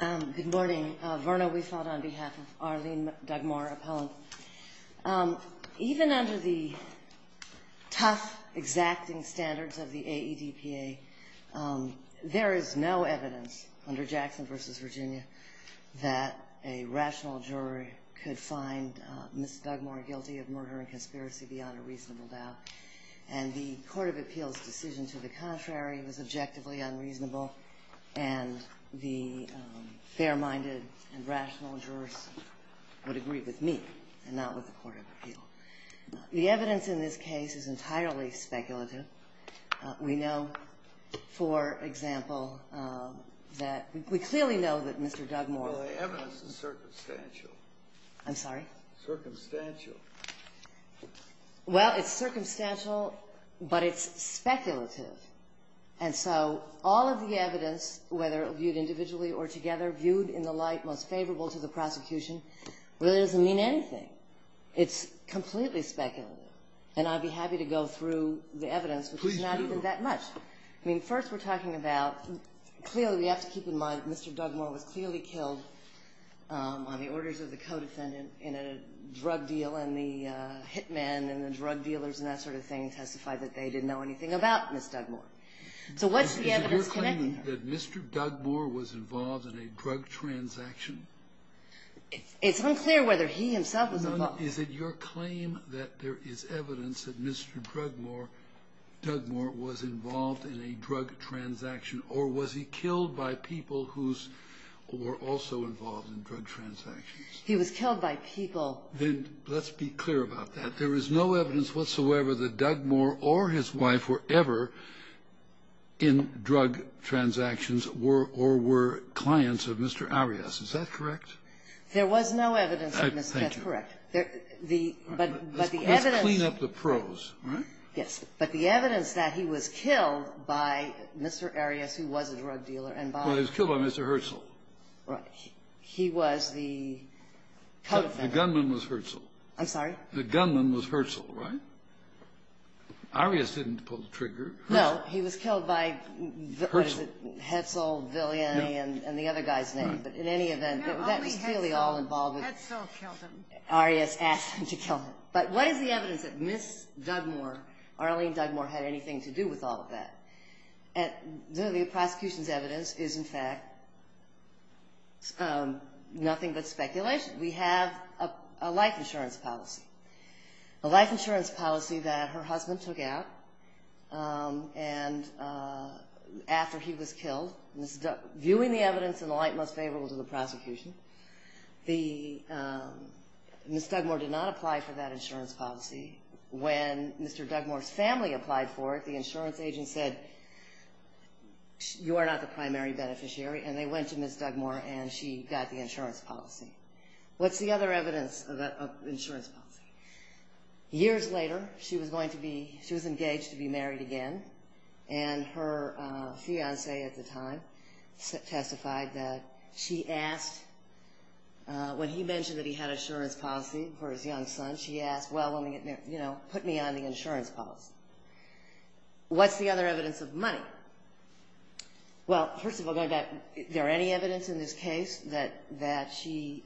Good morning. Verna Weisfeld on behalf of Arlene Dugmore, appellant. Even under the tough exacting standards of the AEDPA, there is no evidence under Jackson v. Virginia that a rational jury could find Ms. Dugmore guilty of murder and conspiracy beyond a reasonable doubt. And the Court of Appeals' decision to the contrary was objectively unreasonable and the fair-minded and rational jurors would agree with me and not with the Court of Appeals. The evidence in this case is entirely speculative. We know, for example, that we clearly know that Mr. Dugmore Well, the evidence is circumstantial. I'm sorry? Circumstantial. Well, it's circumstantial, but it's speculative. And so all of the evidence, whether viewed individually or together, viewed in the light most favorable to the prosecution, really doesn't mean anything. It's completely speculative. And I'd be happy to go through the evidence, which is not even that much. I mean, first we're talking about, clearly we have to keep in mind that Mr. Dugmore was clearly killed on the orders of the co-defendant in a drug deal and the hit man and the drug dealers and that sort of thing testified that they didn't know anything about Ms. Dugmore. So what's the evidence connecting her? Is it your claim that Mr. Dugmore was involved in a drug transaction? It's unclear whether he himself was involved. Is it your claim that there is evidence that Mr. Dugmore was involved in a drug transaction or was he killed by people who were also involved in drug transactions? He was killed by people. Then let's be clear about that. There is no evidence whatsoever that Dugmore or his wife were ever in drug transactions or were clients of Mr. Arias. Is that correct? There was no evidence of Mr. Arias. Thank you. That's correct. Let's clean up the prose, all right? Yes. But the evidence that he was killed by Mr. Arias, who was a drug dealer, and by the Well, he was killed by Mr. Herzl. He was the co-defendant. The gunman was Herzl. I'm sorry? The gunman was Herzl, right? Arias didn't pull the trigger. Herzl. No. He was killed by, what is it, Herzl, Villiani, and the other guy's name. Right. But in any event, that was clearly all involved with Herzl killed him. Arias asked him to kill him. But what is the evidence that Ms. Dugmore, Arlene Dugmore, had anything to do with all of that? The prosecution's evidence is, in fact, nothing but speculation. We have a life insurance policy, a life insurance policy that her husband took out after he was killed. Viewing the evidence in the light most favorable to the prosecution, Ms. Dugmore did not apply for that insurance policy. When Mr. Dugmore's family applied for it, the insurance agent said, You are not the primary beneficiary. And they went to Ms. Dugmore, and she got the insurance policy. What's the other evidence of that insurance policy? Years later, she was engaged to be married again, and her fiancé at the time testified that she asked, when he mentioned that he had insurance policy for his young son, she asked, Well, put me on the insurance policy. What's the other evidence of money? Well, first of all, going back, is there any evidence in this case that she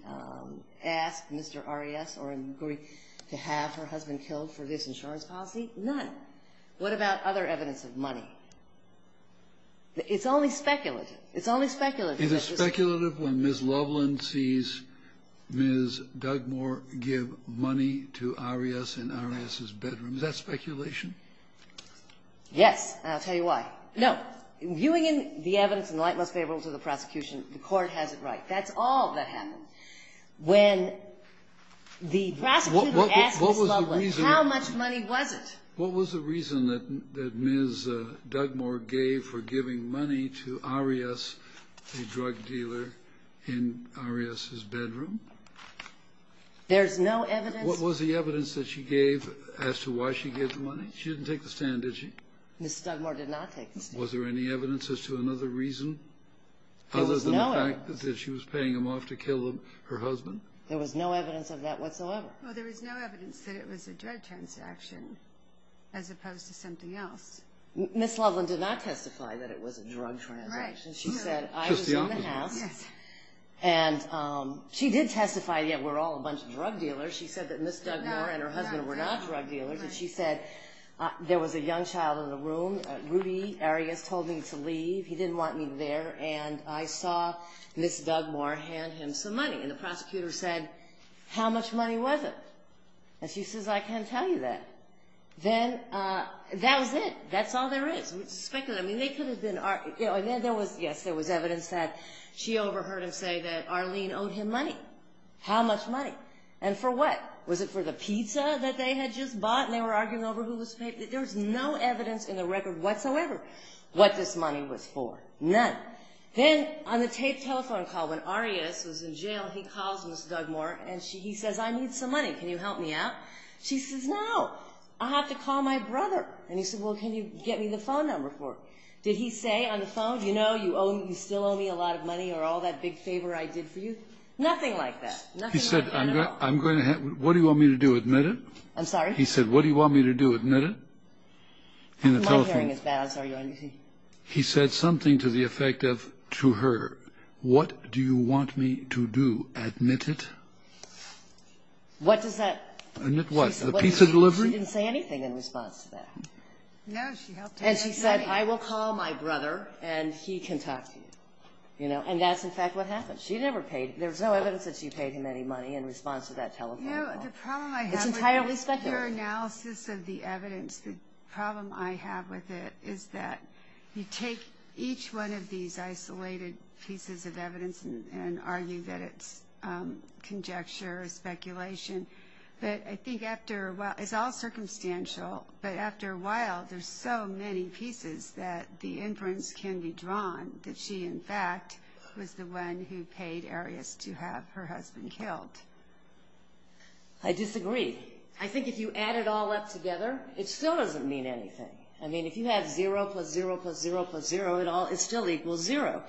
asked Mr. Arias or agreed to have her husband killed for this insurance policy? None. What about other evidence of money? It's only speculation. It's only speculation. Is it speculative when Ms. Loveland sees Ms. Dugmore give money to Arias in Arias's bedroom? Is that speculation? Yes, and I'll tell you why. No. Viewing the evidence in the light most favorable to the prosecution, the Court has it right. That's all that happened. When the prosecutor asked Ms. Loveland, how much money was it? What was the reason that Ms. Dugmore gave for giving money to Arias, the drug dealer, in Arias's bedroom? There's no evidence. What was the evidence that she gave as to why she gave the money? She didn't take the stand, did she? Ms. Dugmore did not take the stand. Was there any evidence as to another reason other than the fact that she was paying him off to kill her husband? There was no evidence of that whatsoever. Well, there was no evidence that it was a drug transaction as opposed to something else. Ms. Loveland did not testify that it was a drug transaction. She said, I was in the house. And she did testify that we're all a bunch of drug dealers. She said that Ms. Dugmore and her husband were not drug dealers. And she said, there was a young child in the room. Rudy Arias told me to leave. He didn't want me there. And I saw Ms. Dugmore hand him some money. And the prosecutor said, how much money was it? And she says, I can't tell you that. Then that was it. That's all there is. I mean, they could have been arguing. Yes, there was evidence that she overheard him say that Arlene owed him money. How much money? And for what? Was it for the pizza that they had just bought? And they were arguing over who was paying? There was no evidence in the record whatsoever what this money was for. None. Then on the tape telephone call when Arias was in jail, he calls Ms. Dugmore. And he says, I need some money. Can you help me out? She says, no, I have to call my brother. And he said, well, can you get me the phone number for it? Did he say on the phone, you know, you still owe me a lot of money or all that big favor I did for you? Nothing like that. Nothing like that at all. He said, what do you want me to do, admit it? I'm sorry? He said, what do you want me to do, admit it? My hearing is bad. He said something to the effect of, to her, what do you want me to do, admit it? What does that? Admit what? The pizza delivery? She didn't say anything in response to that. No, she helped him. And she said, I will call my brother and he can talk to you. You know, and that's in fact what happened. She never paid. There was no evidence that she paid him any money in response to that telephone call. No, the problem I have with your analysis of the evidence, the problem I have with it, is that you take each one of these isolated pieces of evidence and argue that it's conjecture or speculation. But I think after a while, it's all circumstantial, but after a while there's so many pieces that the inference can be drawn that she, in fact, was the one who paid Arias to have her husband killed. I disagree. I think if you add it all up together, it still doesn't mean anything. I mean, if you have zero plus zero plus zero plus zero, it still equals zero.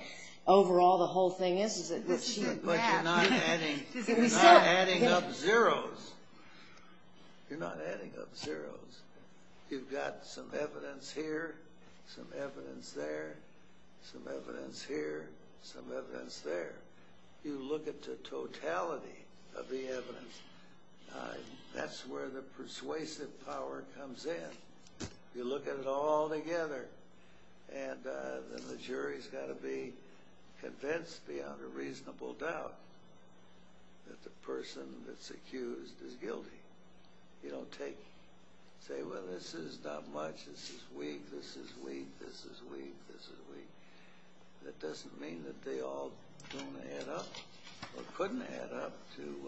Overall, the whole thing is that she had that. But you're not adding up zeros. You're not adding up zeros. You've got some evidence here, some evidence there, some evidence here, some evidence there. You look at the totality of the evidence. That's where the persuasive power comes in. You look at it all together, and then the jury's got to be convinced beyond a reasonable doubt that the person that's accused is guilty. You don't say, well, this is not much, this is weak, this is weak, this is weak, this is weak. That doesn't mean that they all don't add up or couldn't add up to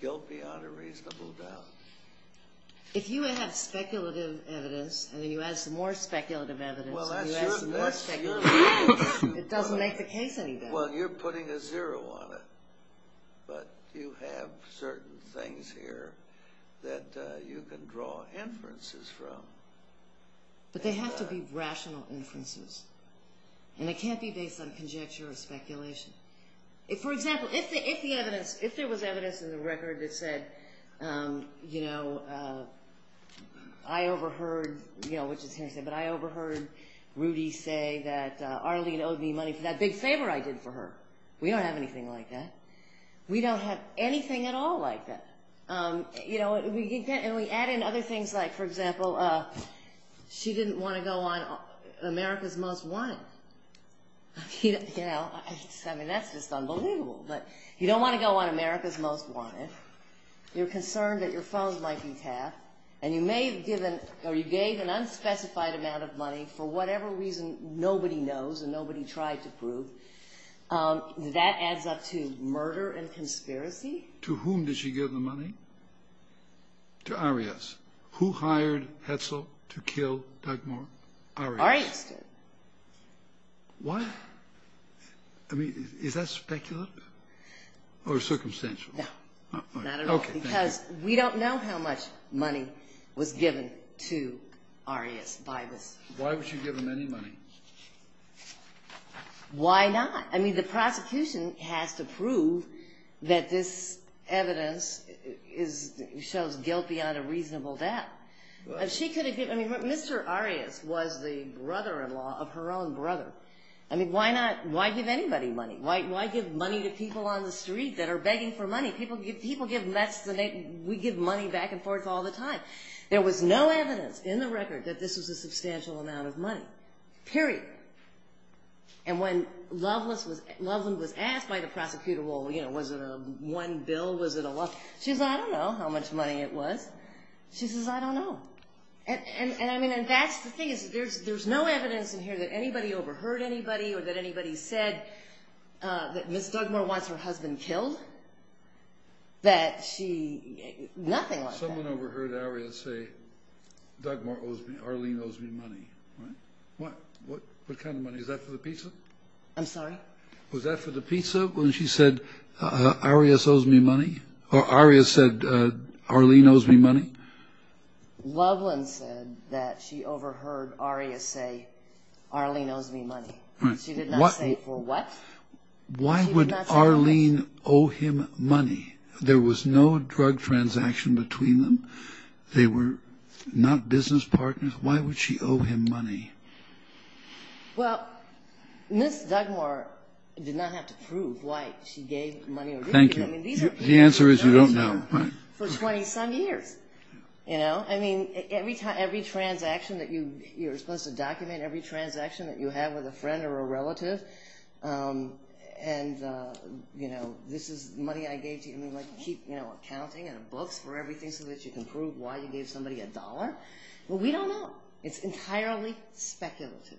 guilt beyond a reasonable doubt. If you have speculative evidence and then you add some more speculative evidence and you add some more speculative evidence, it doesn't make the case any better. Well, you're putting a zero on it, but you have certain things here that you can draw inferences from. But they have to be rational inferences, and they can't be based on conjecture or speculation. For example, if there was evidence in the record that said, I overheard Rudy say that Arlene owed me money for that big favor I did for her. We don't have anything like that. We don't have anything at all like that. And we add in other things like, for example, she didn't want to go on America's Most Wanted. I mean, that's just unbelievable. But you don't want to go on America's Most Wanted. You're concerned that your phone might be tapped. And you may have given or you gave an unspecified amount of money for whatever reason nobody knows and nobody tried to prove. That adds up to murder and conspiracy. To whom did she give the money? To Arias. Who hired Hetzel to kill Doug Moore? Arias. Arias did. What? I mean, is that speculative or circumstantial? No. Not at all. Because we don't know how much money was given to Arias by this. Why would she give him any money? Why not? I mean, the prosecution has to prove that this evidence is – shows guilt beyond a reasonable doubt. If she could have given – I mean, Mr. Arias was the brother-in-law of her own brother. I mean, why not – why give anybody money? Why give money to people on the street that are begging for money? People give – we give money back and forth all the time. There was no evidence in the record that this was a substantial amount of money. Period. And when Loveland was asked by the prosecutor, well, you know, was it a one bill? Was it a – she said, I don't know how much money it was. She says, I don't know. And I mean, that's the thing is there's no evidence in here that anybody overheard anybody or that anybody said that Ms. Dugmore wants her husband killed. That she – nothing like that. Someone overheard Arias say, Dugmore owes me – Arlene owes me money. What? What? What kind of money? Is that for the pizza? I'm sorry? Was that for the pizza when she said, Arias owes me money? Or Arias said, Arlene owes me money? Loveland said that she overheard Arias say, Arlene owes me money. She did not say for what. Why would Arlene owe him money? There was no drug transaction between them. They were not business partners. Why would she owe him money? Well, Ms. Dugmore did not have to prove why she gave money or didn't give money. Thank you. The answer is you don't know. For 20-some years. You know? I mean, every transaction that you – you're supposed to document every transaction that you have with a friend or a relative. And, you know, this is money I gave to you. I mean, like, keep, you know, accounting and books for everything so that you can prove why you gave somebody a dollar. Well, we don't know. It's entirely speculative.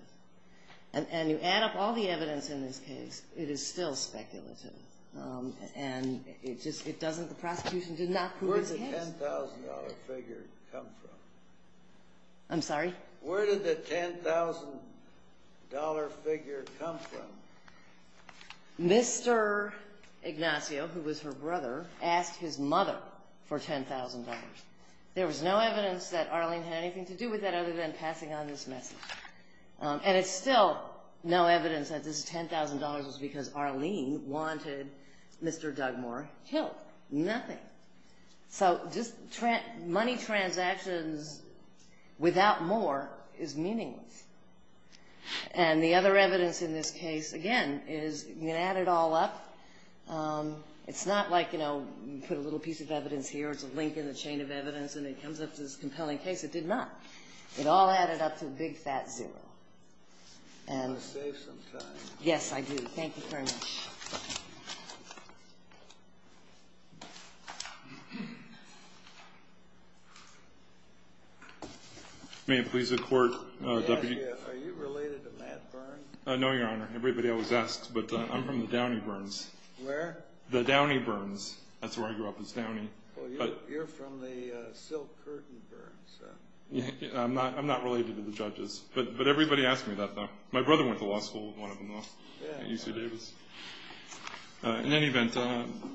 And you add up all the evidence in this case, it is still speculative. And it doesn't – the prosecution did not prove it's a case. Where did the $10,000 figure come from? I'm sorry? Where did the $10,000 figure come from? Mr. Ignacio, who was her brother, asked his mother for $10,000. There was no evidence that Arlene had anything to do with that other than passing on this message. And it's still no evidence that this $10,000 was because Arlene wanted Mr. Dugmore killed. Nothing. So just money transactions without more is meaningless. And the other evidence in this case, again, is you can add it all up. It's not like, you know, put a little piece of evidence here, it's a link in the chain of evidence, and it comes up to this compelling case. It did not. It all added up to a big fat zero. You want to save some time. Yes, I do. Thank you very much. May it please the Court, Deputy? Are you related to Matt Byrne? No, Your Honor. Everybody always asks, but I'm from the Downey Byrnes. Where? The Downey Byrnes. That's where I grew up was Downey. You're from the Silk Curtain Byrnes. I'm not related to the judges. But everybody asks me that, though. My brother went to law school with one of them, though, at UC Davis. In any event,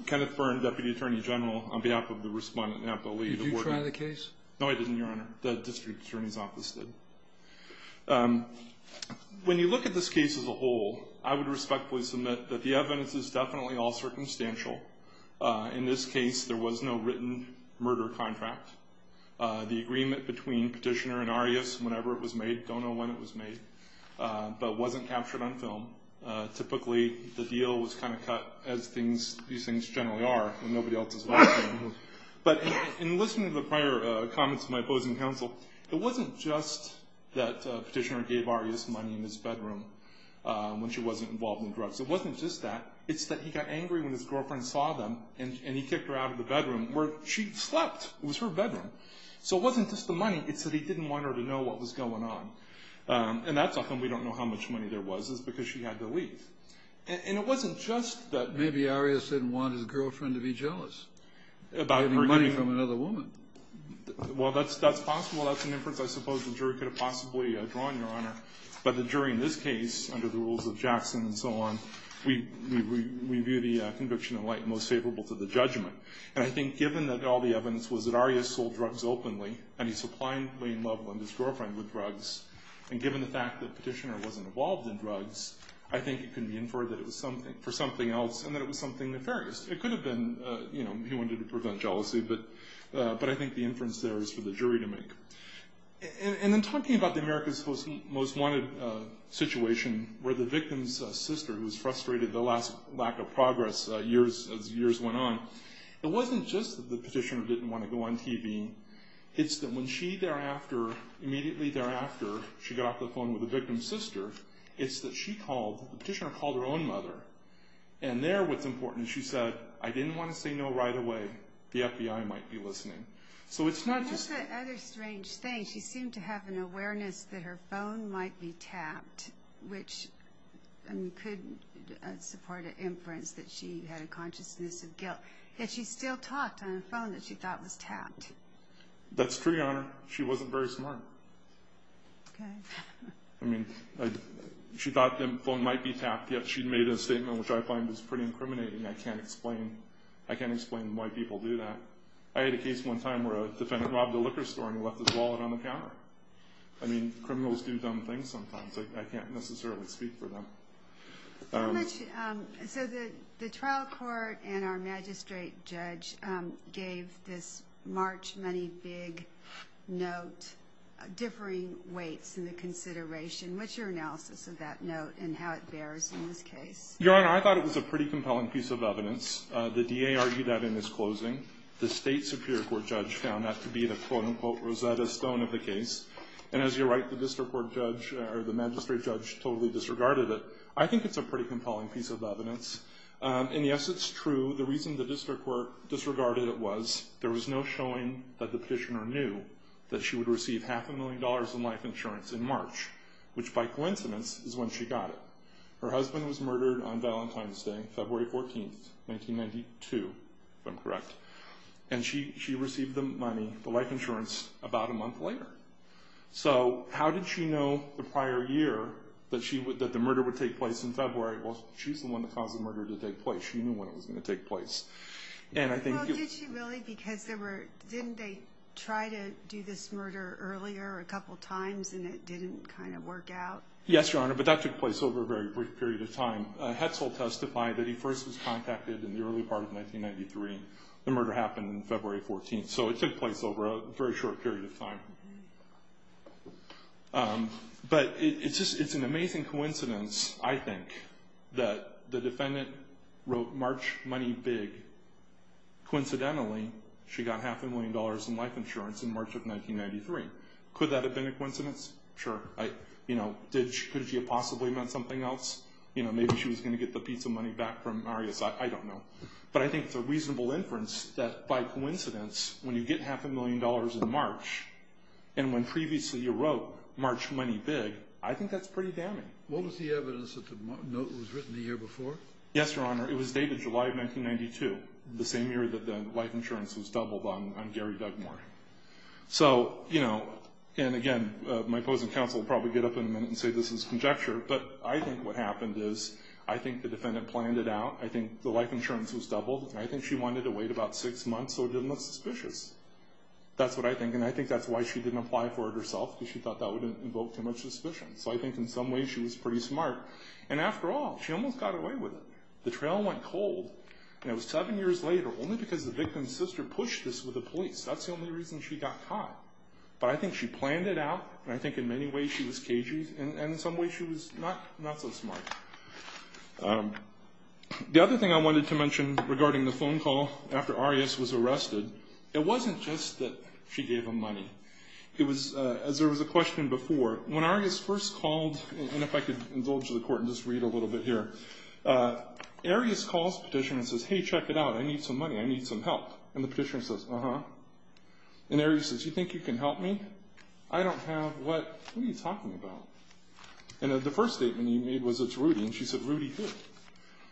Kenneth Byrne, Deputy Attorney General, on behalf of the Respondent and on behalf of the League of Wardens. Did you try the case? No, I didn't, Your Honor. The District Attorney's Office did. When you look at this case as a whole, I would respectfully submit that the evidence is definitely all circumstantial. In this case, there was no written murder contract. The agreement between Petitioner and Arias, whenever it was made, don't know when it was made, but it wasn't captured on film. Typically, the deal was kind of cut, as these things generally are, when nobody else is watching. But in listening to the prior comments of my opposing counsel, it wasn't just that Petitioner gave Arias money in his bedroom when she wasn't involved in drugs. It wasn't just that. It's that he got angry when his girlfriend saw them, and he kicked her out of the bedroom where she slept. It was her bedroom. So it wasn't just the money. It's that he didn't want her to know what was going on. And that's often we don't know how much money there was, is because she had to leave. And it wasn't just that. Maybe Arias didn't want his girlfriend to be jealous about getting money from another woman. Well, that's possible. That's an inference I suppose the jury could have possibly drawn, Your Honor. But the jury in this case, under the rules of Jackson and so on, we view the conviction in light most favorable to the judgment. And I think given that all the evidence was that Arias sold drugs openly and he supplied Lane Loveland, his girlfriend, with drugs, and given the fact that Petitioner wasn't involved in drugs, I think it can be inferred that it was for something else and that it was something nefarious. It could have been he wanted to prevent jealousy, but I think the inference there is for the jury to make. And then talking about the America's Most Wanted situation where the victim's sister, who was frustrated at the last lack of progress as years went on, it wasn't just that the Petitioner didn't want to go on TV. It's that when she thereafter, immediately thereafter, she got off the phone with the victim's sister, it's that she called, the Petitioner called her own mother. And there what's important is she said, I didn't want to say no right away, the FBI might be listening. So it's not just that. What's that other strange thing? She seemed to have an awareness that her phone might be tapped, which could support an inference that she had a consciousness of guilt. Yet she still talked on the phone that she thought was tapped. That's true, Your Honor. She wasn't very smart. I mean, she thought the phone might be tapped, yet she made a statement which I find is pretty incriminating. I can't explain why people do that. I had a case one time where a defendant robbed a liquor store and he left his wallet on the counter. I mean, criminals do dumb things sometimes. I can't necessarily speak for them. So the trial court and our magistrate judge gave this March money big note differing weights in the consideration. What's your analysis of that note and how it bears in this case? Your Honor, I thought it was a pretty compelling piece of evidence. The DA argued that in his closing. The state superior court judge found that to be the, quote-unquote, Rosetta Stone of the case. And as you're right, the district court judge or the magistrate judge totally disregarded it. I think it's a pretty compelling piece of evidence. And, yes, it's true. The reason the district court disregarded it was there was no showing that the petitioner knew that she would receive half a million dollars in life insurance in March, which, by coincidence, is when she got it. Her husband was murdered on Valentine's Day, February 14th, 1992, if I'm correct. And she received the money, the life insurance, about a month later. So how did she know the prior year that the murder would take place in February? Well, she's the one that caused the murder to take place. She knew when it was going to take place. Well, did she really? Because didn't they try to do this murder earlier a couple times and it didn't kind of work out? Yes, Your Honor, but that took place over a very brief period of time. Hetzel testified that he first was contacted in the early part of 1993. The murder happened February 14th. So it took place over a very short period of time. But it's an amazing coincidence, I think, that the defendant wrote, March, money big. Coincidentally, she got half a million dollars in life insurance in March of 1993. Could that have been a coincidence? Sure. Could she have possibly meant something else? You know, maybe she was going to get the piece of money back from Arias. I don't know. But I think it's a reasonable inference that, by coincidence, when you get half a million dollars in March and when previously you wrote, March, money big, I think that's pretty damning. What was the evidence that the note was written the year before? Yes, Your Honor, it was dated July of 1992, the same year that the life insurance was doubled on Gary Dugmore. So, you know, and again, my opposing counsel will probably get up in a minute and say this is conjecture, but I think what happened is I think the defendant planned it out, I think the life insurance was doubled, and I think she wanted to wait about six months so it didn't look suspicious. That's what I think, and I think that's why she didn't apply for it herself, because she thought that would invoke too much suspicion. So I think in some ways she was pretty smart. And after all, she almost got away with it. The trail went cold, and it was seven years later, only because the victim's sister pushed this with the police. That's the only reason she got caught. But I think she planned it out, and I think in many ways she was cagey, and in some ways she was not so smart. The other thing I wanted to mention regarding the phone call, after Arias was arrested, it wasn't just that she gave him money. It was, as there was a question before, when Arias first called, and if I could indulge the court and just read a little bit here, Arias calls the petitioner and says, hey, check it out, I need some money, I need some help. And the petitioner says, uh-huh. And Arias says, you think you can help me? I don't have what, what are you talking about? And the first statement he made was, it's Rudy. And she said, Rudy who?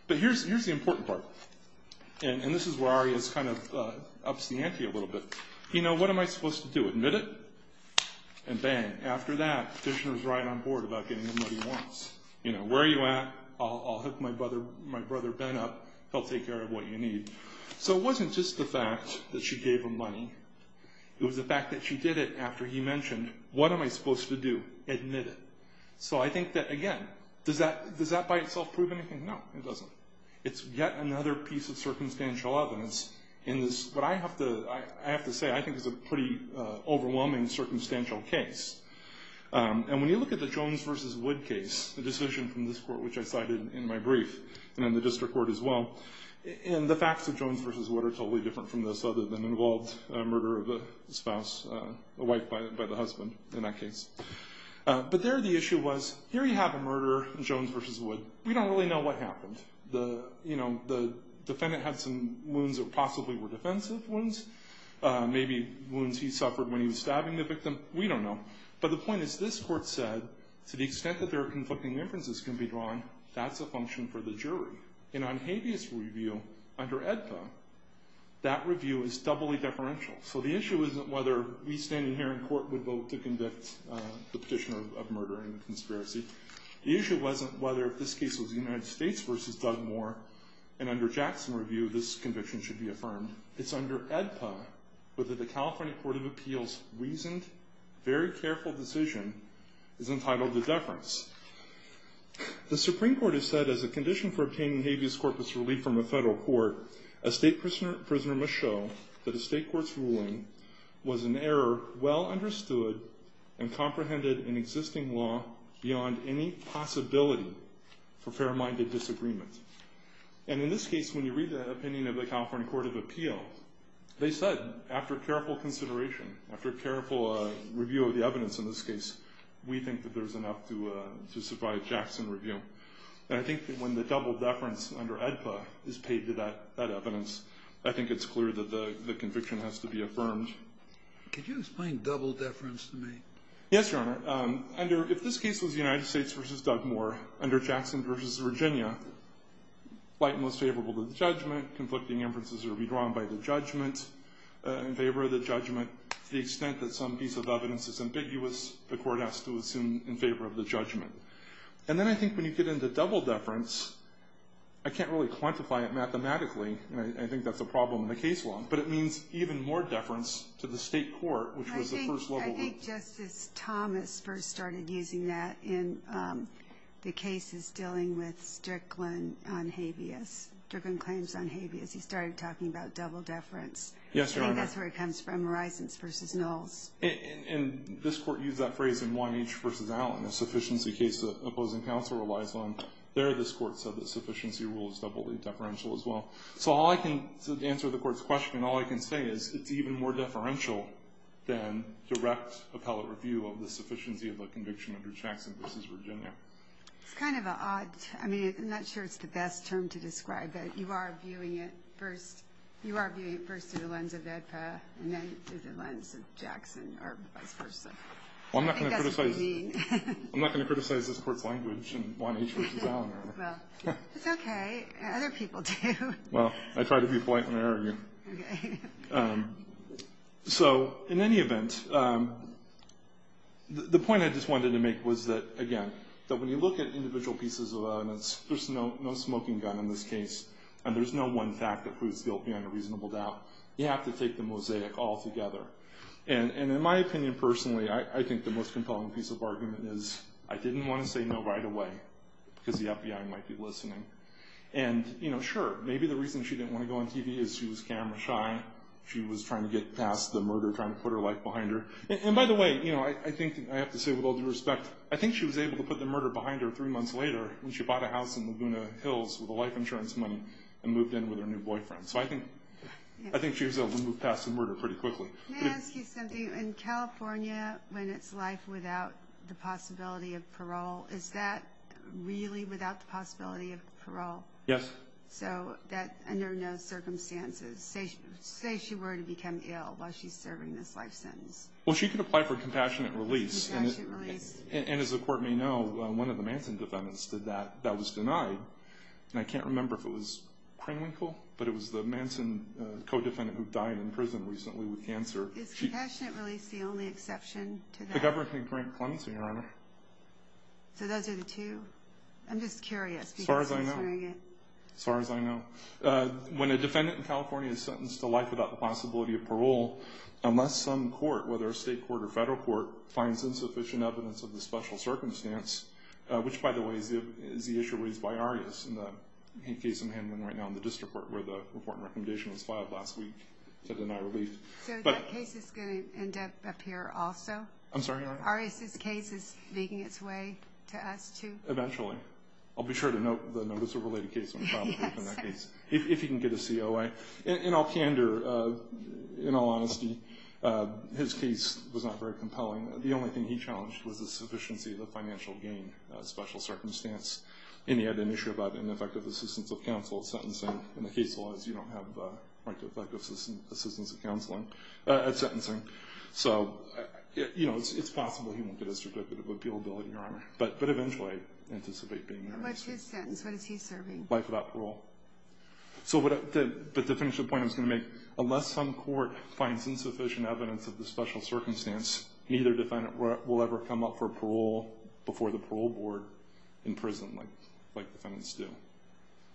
But here's the important part. And this is where Arias kind of ups the ante a little bit. You know, what am I supposed to do, admit it? And bang, after that, the petitioner's right on board about getting him what he wants. You know, where are you at? I'll hook my brother Ben up, he'll take care of what you need. So it wasn't just the fact that she gave him money. It was the fact that she did it after he mentioned, what am I supposed to do, admit it? So I think that, again, does that by itself prove anything? No, it doesn't. It's yet another piece of circumstantial evidence in this, what I have to say I think is a pretty overwhelming circumstantial case. And when you look at the Jones v. Wood case, the decision from this court which I cited in my brief, and in the district court as well, and the facts of Jones v. Wood are totally different from this other than involved a murder of a spouse, a wife by the husband in that case. But there the issue was, here you have a murderer, Jones v. Wood, we don't really know what happened. You know, the defendant had some wounds that possibly were defensive wounds, maybe wounds he suffered when he was stabbing the victim, we don't know. But the point is, this court said, to the extent that there are conflicting inferences can be drawn, that's a function for the jury. In Onhabia's review, under AEDPA, that review is doubly deferential. So the issue isn't whether we standing here in court would vote to convict the petitioner of murder and conspiracy. The issue wasn't whether if this case was the United States v. Dugmore, and under Jackson's review, this conviction should be affirmed. It's under AEDPA whether the California Court of Appeals' reasoned, very careful decision is entitled to deference. The Supreme Court has said, as a condition for obtaining habeas corpus relief from a federal court, a state prisoner must show that a state court's ruling was an error well understood and comprehended in existing law beyond any possibility for fair-minded disagreement. And in this case, when you read the opinion of the California Court of Appeals, they said, after careful consideration, after careful review of the evidence in this case, we think that there's enough to survive Jackson's review. And I think that when the double deference under AEDPA is paid to that evidence, I think it's clear that the conviction has to be affirmed. Could you explain double deference to me? Yes, Your Honor. If this case was the United States v. Dugmore, under Jackson v. Virginia, light and most favorable to the judgment, conflicting inferences would be drawn by the judgment, in favor of the judgment, to the extent that some piece of evidence is ambiguous, the court has to assume in favor of the judgment. And then I think when you get into double deference, I can't really quantify it mathematically, and I think that's a problem in the case law, but it means even more deference to the state court, which was the first level. I think Justice Thomas first started using that in the cases dealing with Strickland on habeas, Strickland claims on habeas. He started talking about double deference. Yes, Your Honor. I think that's where it comes from, horizons v. nulls. And this Court used that phrase in Wyneach v. Allen, a sufficiency case that opposing counsel relies on. There this Court said that sufficiency rule is doubly deferential as well. So the answer to the Court's question, all I can say is it's even more deferential than direct appellate review of the sufficiency of a conviction under Jackson v. Virginia. It's kind of odd. I mean, I'm not sure it's the best term to describe it. You are viewing it first through the lens of ADPA, and then through the lens of Jackson or vice versa. I think that's what you mean. I'm not going to criticize this Court's language in Wyneach v. Allen, Your Honor. Well, it's okay. Other people do. Well, I try to be polite when I argue. Okay. So in any event, the point I just wanted to make was that, again, that when you look at individual pieces of evidence, there's no smoking gun in this case, and there's no one fact that proves guilt beyond a reasonable doubt. You have to take the mosaic altogether. And in my opinion personally, I think the most compelling piece of argument is I didn't want to say no right away because the FBI might be listening. And, you know, sure, maybe the reason she didn't want to go on TV is she was camera shy. She was trying to get past the murder, trying to put her life behind her. And by the way, you know, I think I have to say with all due respect, I think she was able to put the murder behind her three months later when she bought a house in Laguna Hills with the life insurance money and moved in with her new boyfriend. So I think she was able to move past the murder pretty quickly. Can I ask you something? In California, when it's life without the possibility of parole, is that really without the possibility of parole? Yes. So that under no circumstances. Say she were to become ill while she's serving this life sentence. Well, she could apply for compassionate release. Compassionate release. And as the court may know, one of the Manson defendants did that. That was denied. And I can't remember if it was Kringwinkle, but it was the Manson co-defendant who died in prison recently with cancer. Is compassionate release the only exception to that? The government can grant clemency, Your Honor. So those are the two? I'm just curious. As far as I know. As far as I know. When a defendant in California is sentenced to life without the possibility of parole, unless some court, whether a state court or federal court, finds insufficient evidence of the special circumstance, which, by the way, is the issue raised by Arias in the case I'm handling right now in the district court where the report and recommendation was filed last week to deny relief. So that case is going to end up up here also? I'm sorry, Your Honor? Arias' case is making its way to us too? Eventually. I'll be sure to note the notice of related case when I file a brief in that case, if he can get a COA. Anyway, in all candor, in all honesty, his case was not very compelling. The only thing he challenged was the sufficiency of the financial gain special circumstance. And he had an issue about ineffective assistance of counsel at sentencing. In the case laws, you don't have effective assistance of counseling at sentencing. So, you know, it's possible he won't get his certificate of appealability, Your Honor. But eventually I anticipate being there. What's his sentence? What is he serving? Life without parole. But to finish the point I was going to make, unless some court finds insufficient evidence of the special circumstance, neither defendant will ever come up for parole before the parole board in prison like defendants do.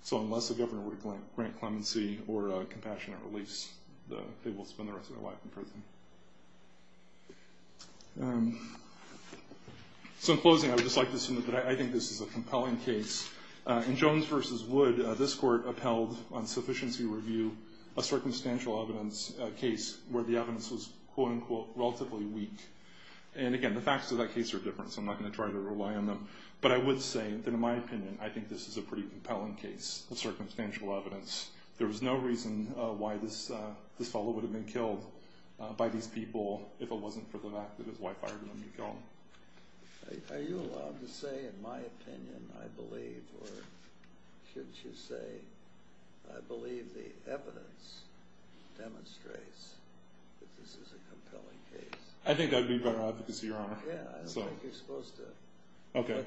So unless the governor would grant clemency or a compassionate release, they will spend the rest of their life in prison. So in closing, I would just like to say that I think this is a compelling case. In Jones v. Wood, this court upheld on sufficiency review a circumstantial evidence case where the evidence was, quote, unquote, relatively weak. And again, the facts of that case are different, so I'm not going to try to rely on them. But I would say that in my opinion, I think this is a pretty compelling case of circumstantial evidence. There was no reason why this fellow would have been killed by these people if it wasn't for the fact that his wife hired him to kill him. Are you allowed to say, in my opinion, I believe, or should you say, I believe the evidence demonstrates that this is a compelling case? I think that would be better advocacy, Your Honor. Yeah, I don't think you're supposed to. OK.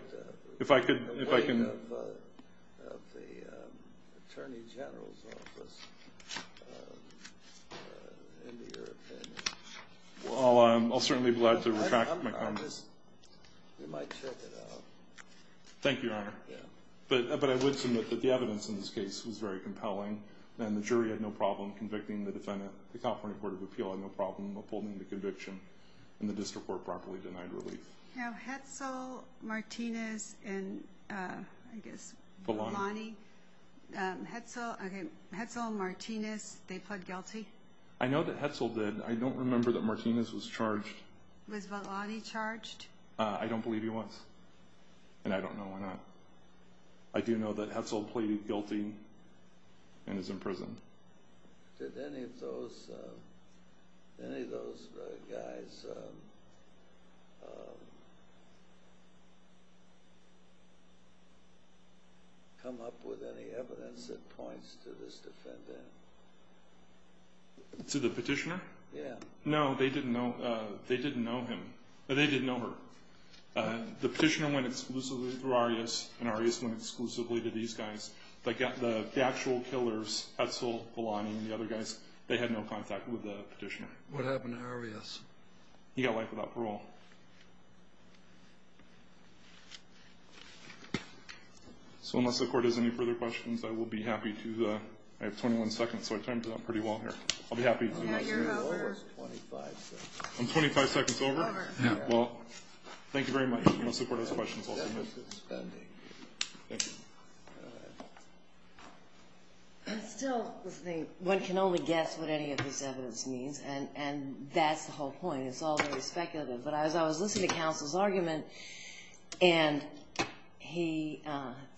If I could, if I can. The weight of the attorney general's office into your opinion. Well, I'll certainly be glad to retract my comments. Thank you, Your Honor. But I would submit that the evidence in this case was very compelling, and the jury had no problem convicting the defendant. The California Court of Appeal had no problem upholding the conviction, and the district court properly denied relief. Now, Hetzel, Martinez, and, I guess, Balani. Hetzel and Martinez, they pled guilty? I know that Hetzel did. I don't remember that Martinez was charged. Was Balani charged? I don't believe he was, and I don't know why not. I do know that Hetzel pleaded guilty and is in prison. Did any of those guys come up with any evidence that points to this defendant? To the petitioner? Yeah. No, they didn't know him. They didn't know her. The petitioner went exclusively through Arias, and Arias went exclusively to these guys. The actual killers, Hetzel, Balani, and the other guys, they had no contact with the petitioner. What happened to Arias? He got life without parole. So unless the court has any further questions, I will be happy to, I have 21 seconds, so I timed it out pretty well here. I'll be happy to. No, you're over. I'm 25 seconds over? You're over. Well, thank you very much. Unless the court has questions, I'll submit. Thank you. Still, one can only guess what any of this evidence means, and that's the whole point. It's all very speculative. But as I was listening to counsel's argument, and he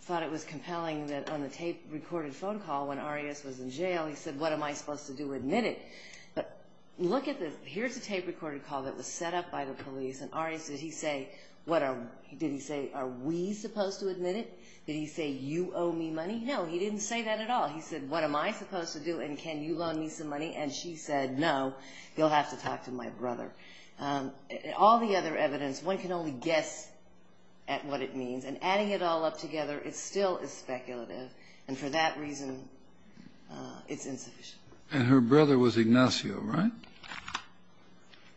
thought it was compelling that on the tape-recorded phone call when Arias was in jail, he said, what am I supposed to do, admit it? But look at this. Here's a tape-recorded call that was set up by the police, and Arias, did he say, are we supposed to admit it? Did he say, you owe me money? No, he didn't say that at all. He said, what am I supposed to do, and can you loan me some money? And she said, no, you'll have to talk to my brother. All the other evidence, one can only guess at what it means. And adding it all up together, it still is speculative. And for that reason, it's insufficient. And her brother was Ignacio, right?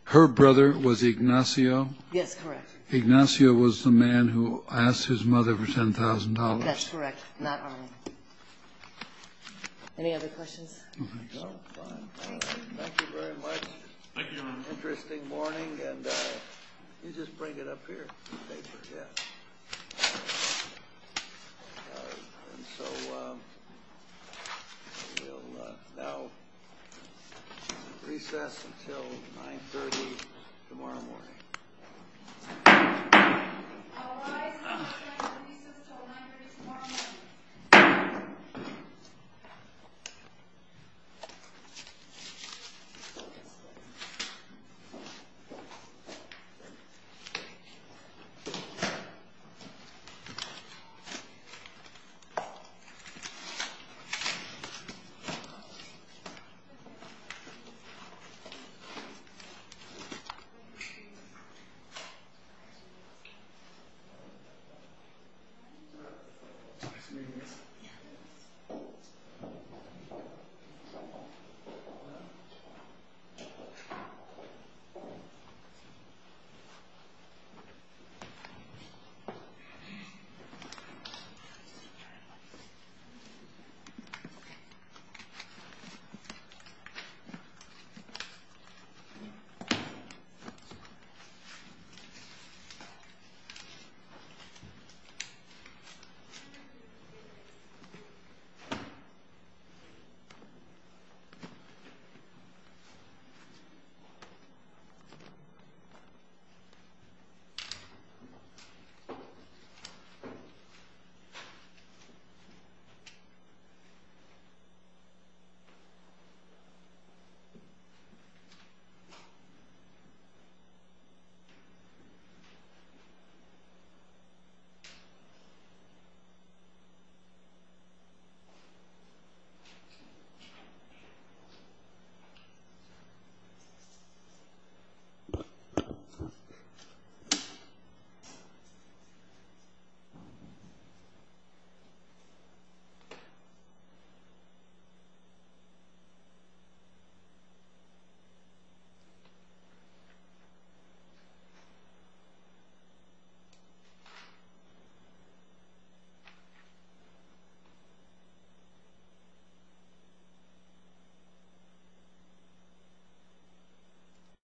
Her brother was Ignacio? Yes, correct. Ignacio was the man who asked his mother for $10,000. That's correct, not Arias. Any other questions? No, fine. Thank you very much. Thank you, Your Honor. Interesting morning, and you just bring it up here, the paper, yeah. And so we'll now recess until 9.30 tomorrow morning. I'll rise and recess until 9.30 tomorrow morning. Thank you, Your Honor. Thank you, Your Honor. Thank you, Your Honor.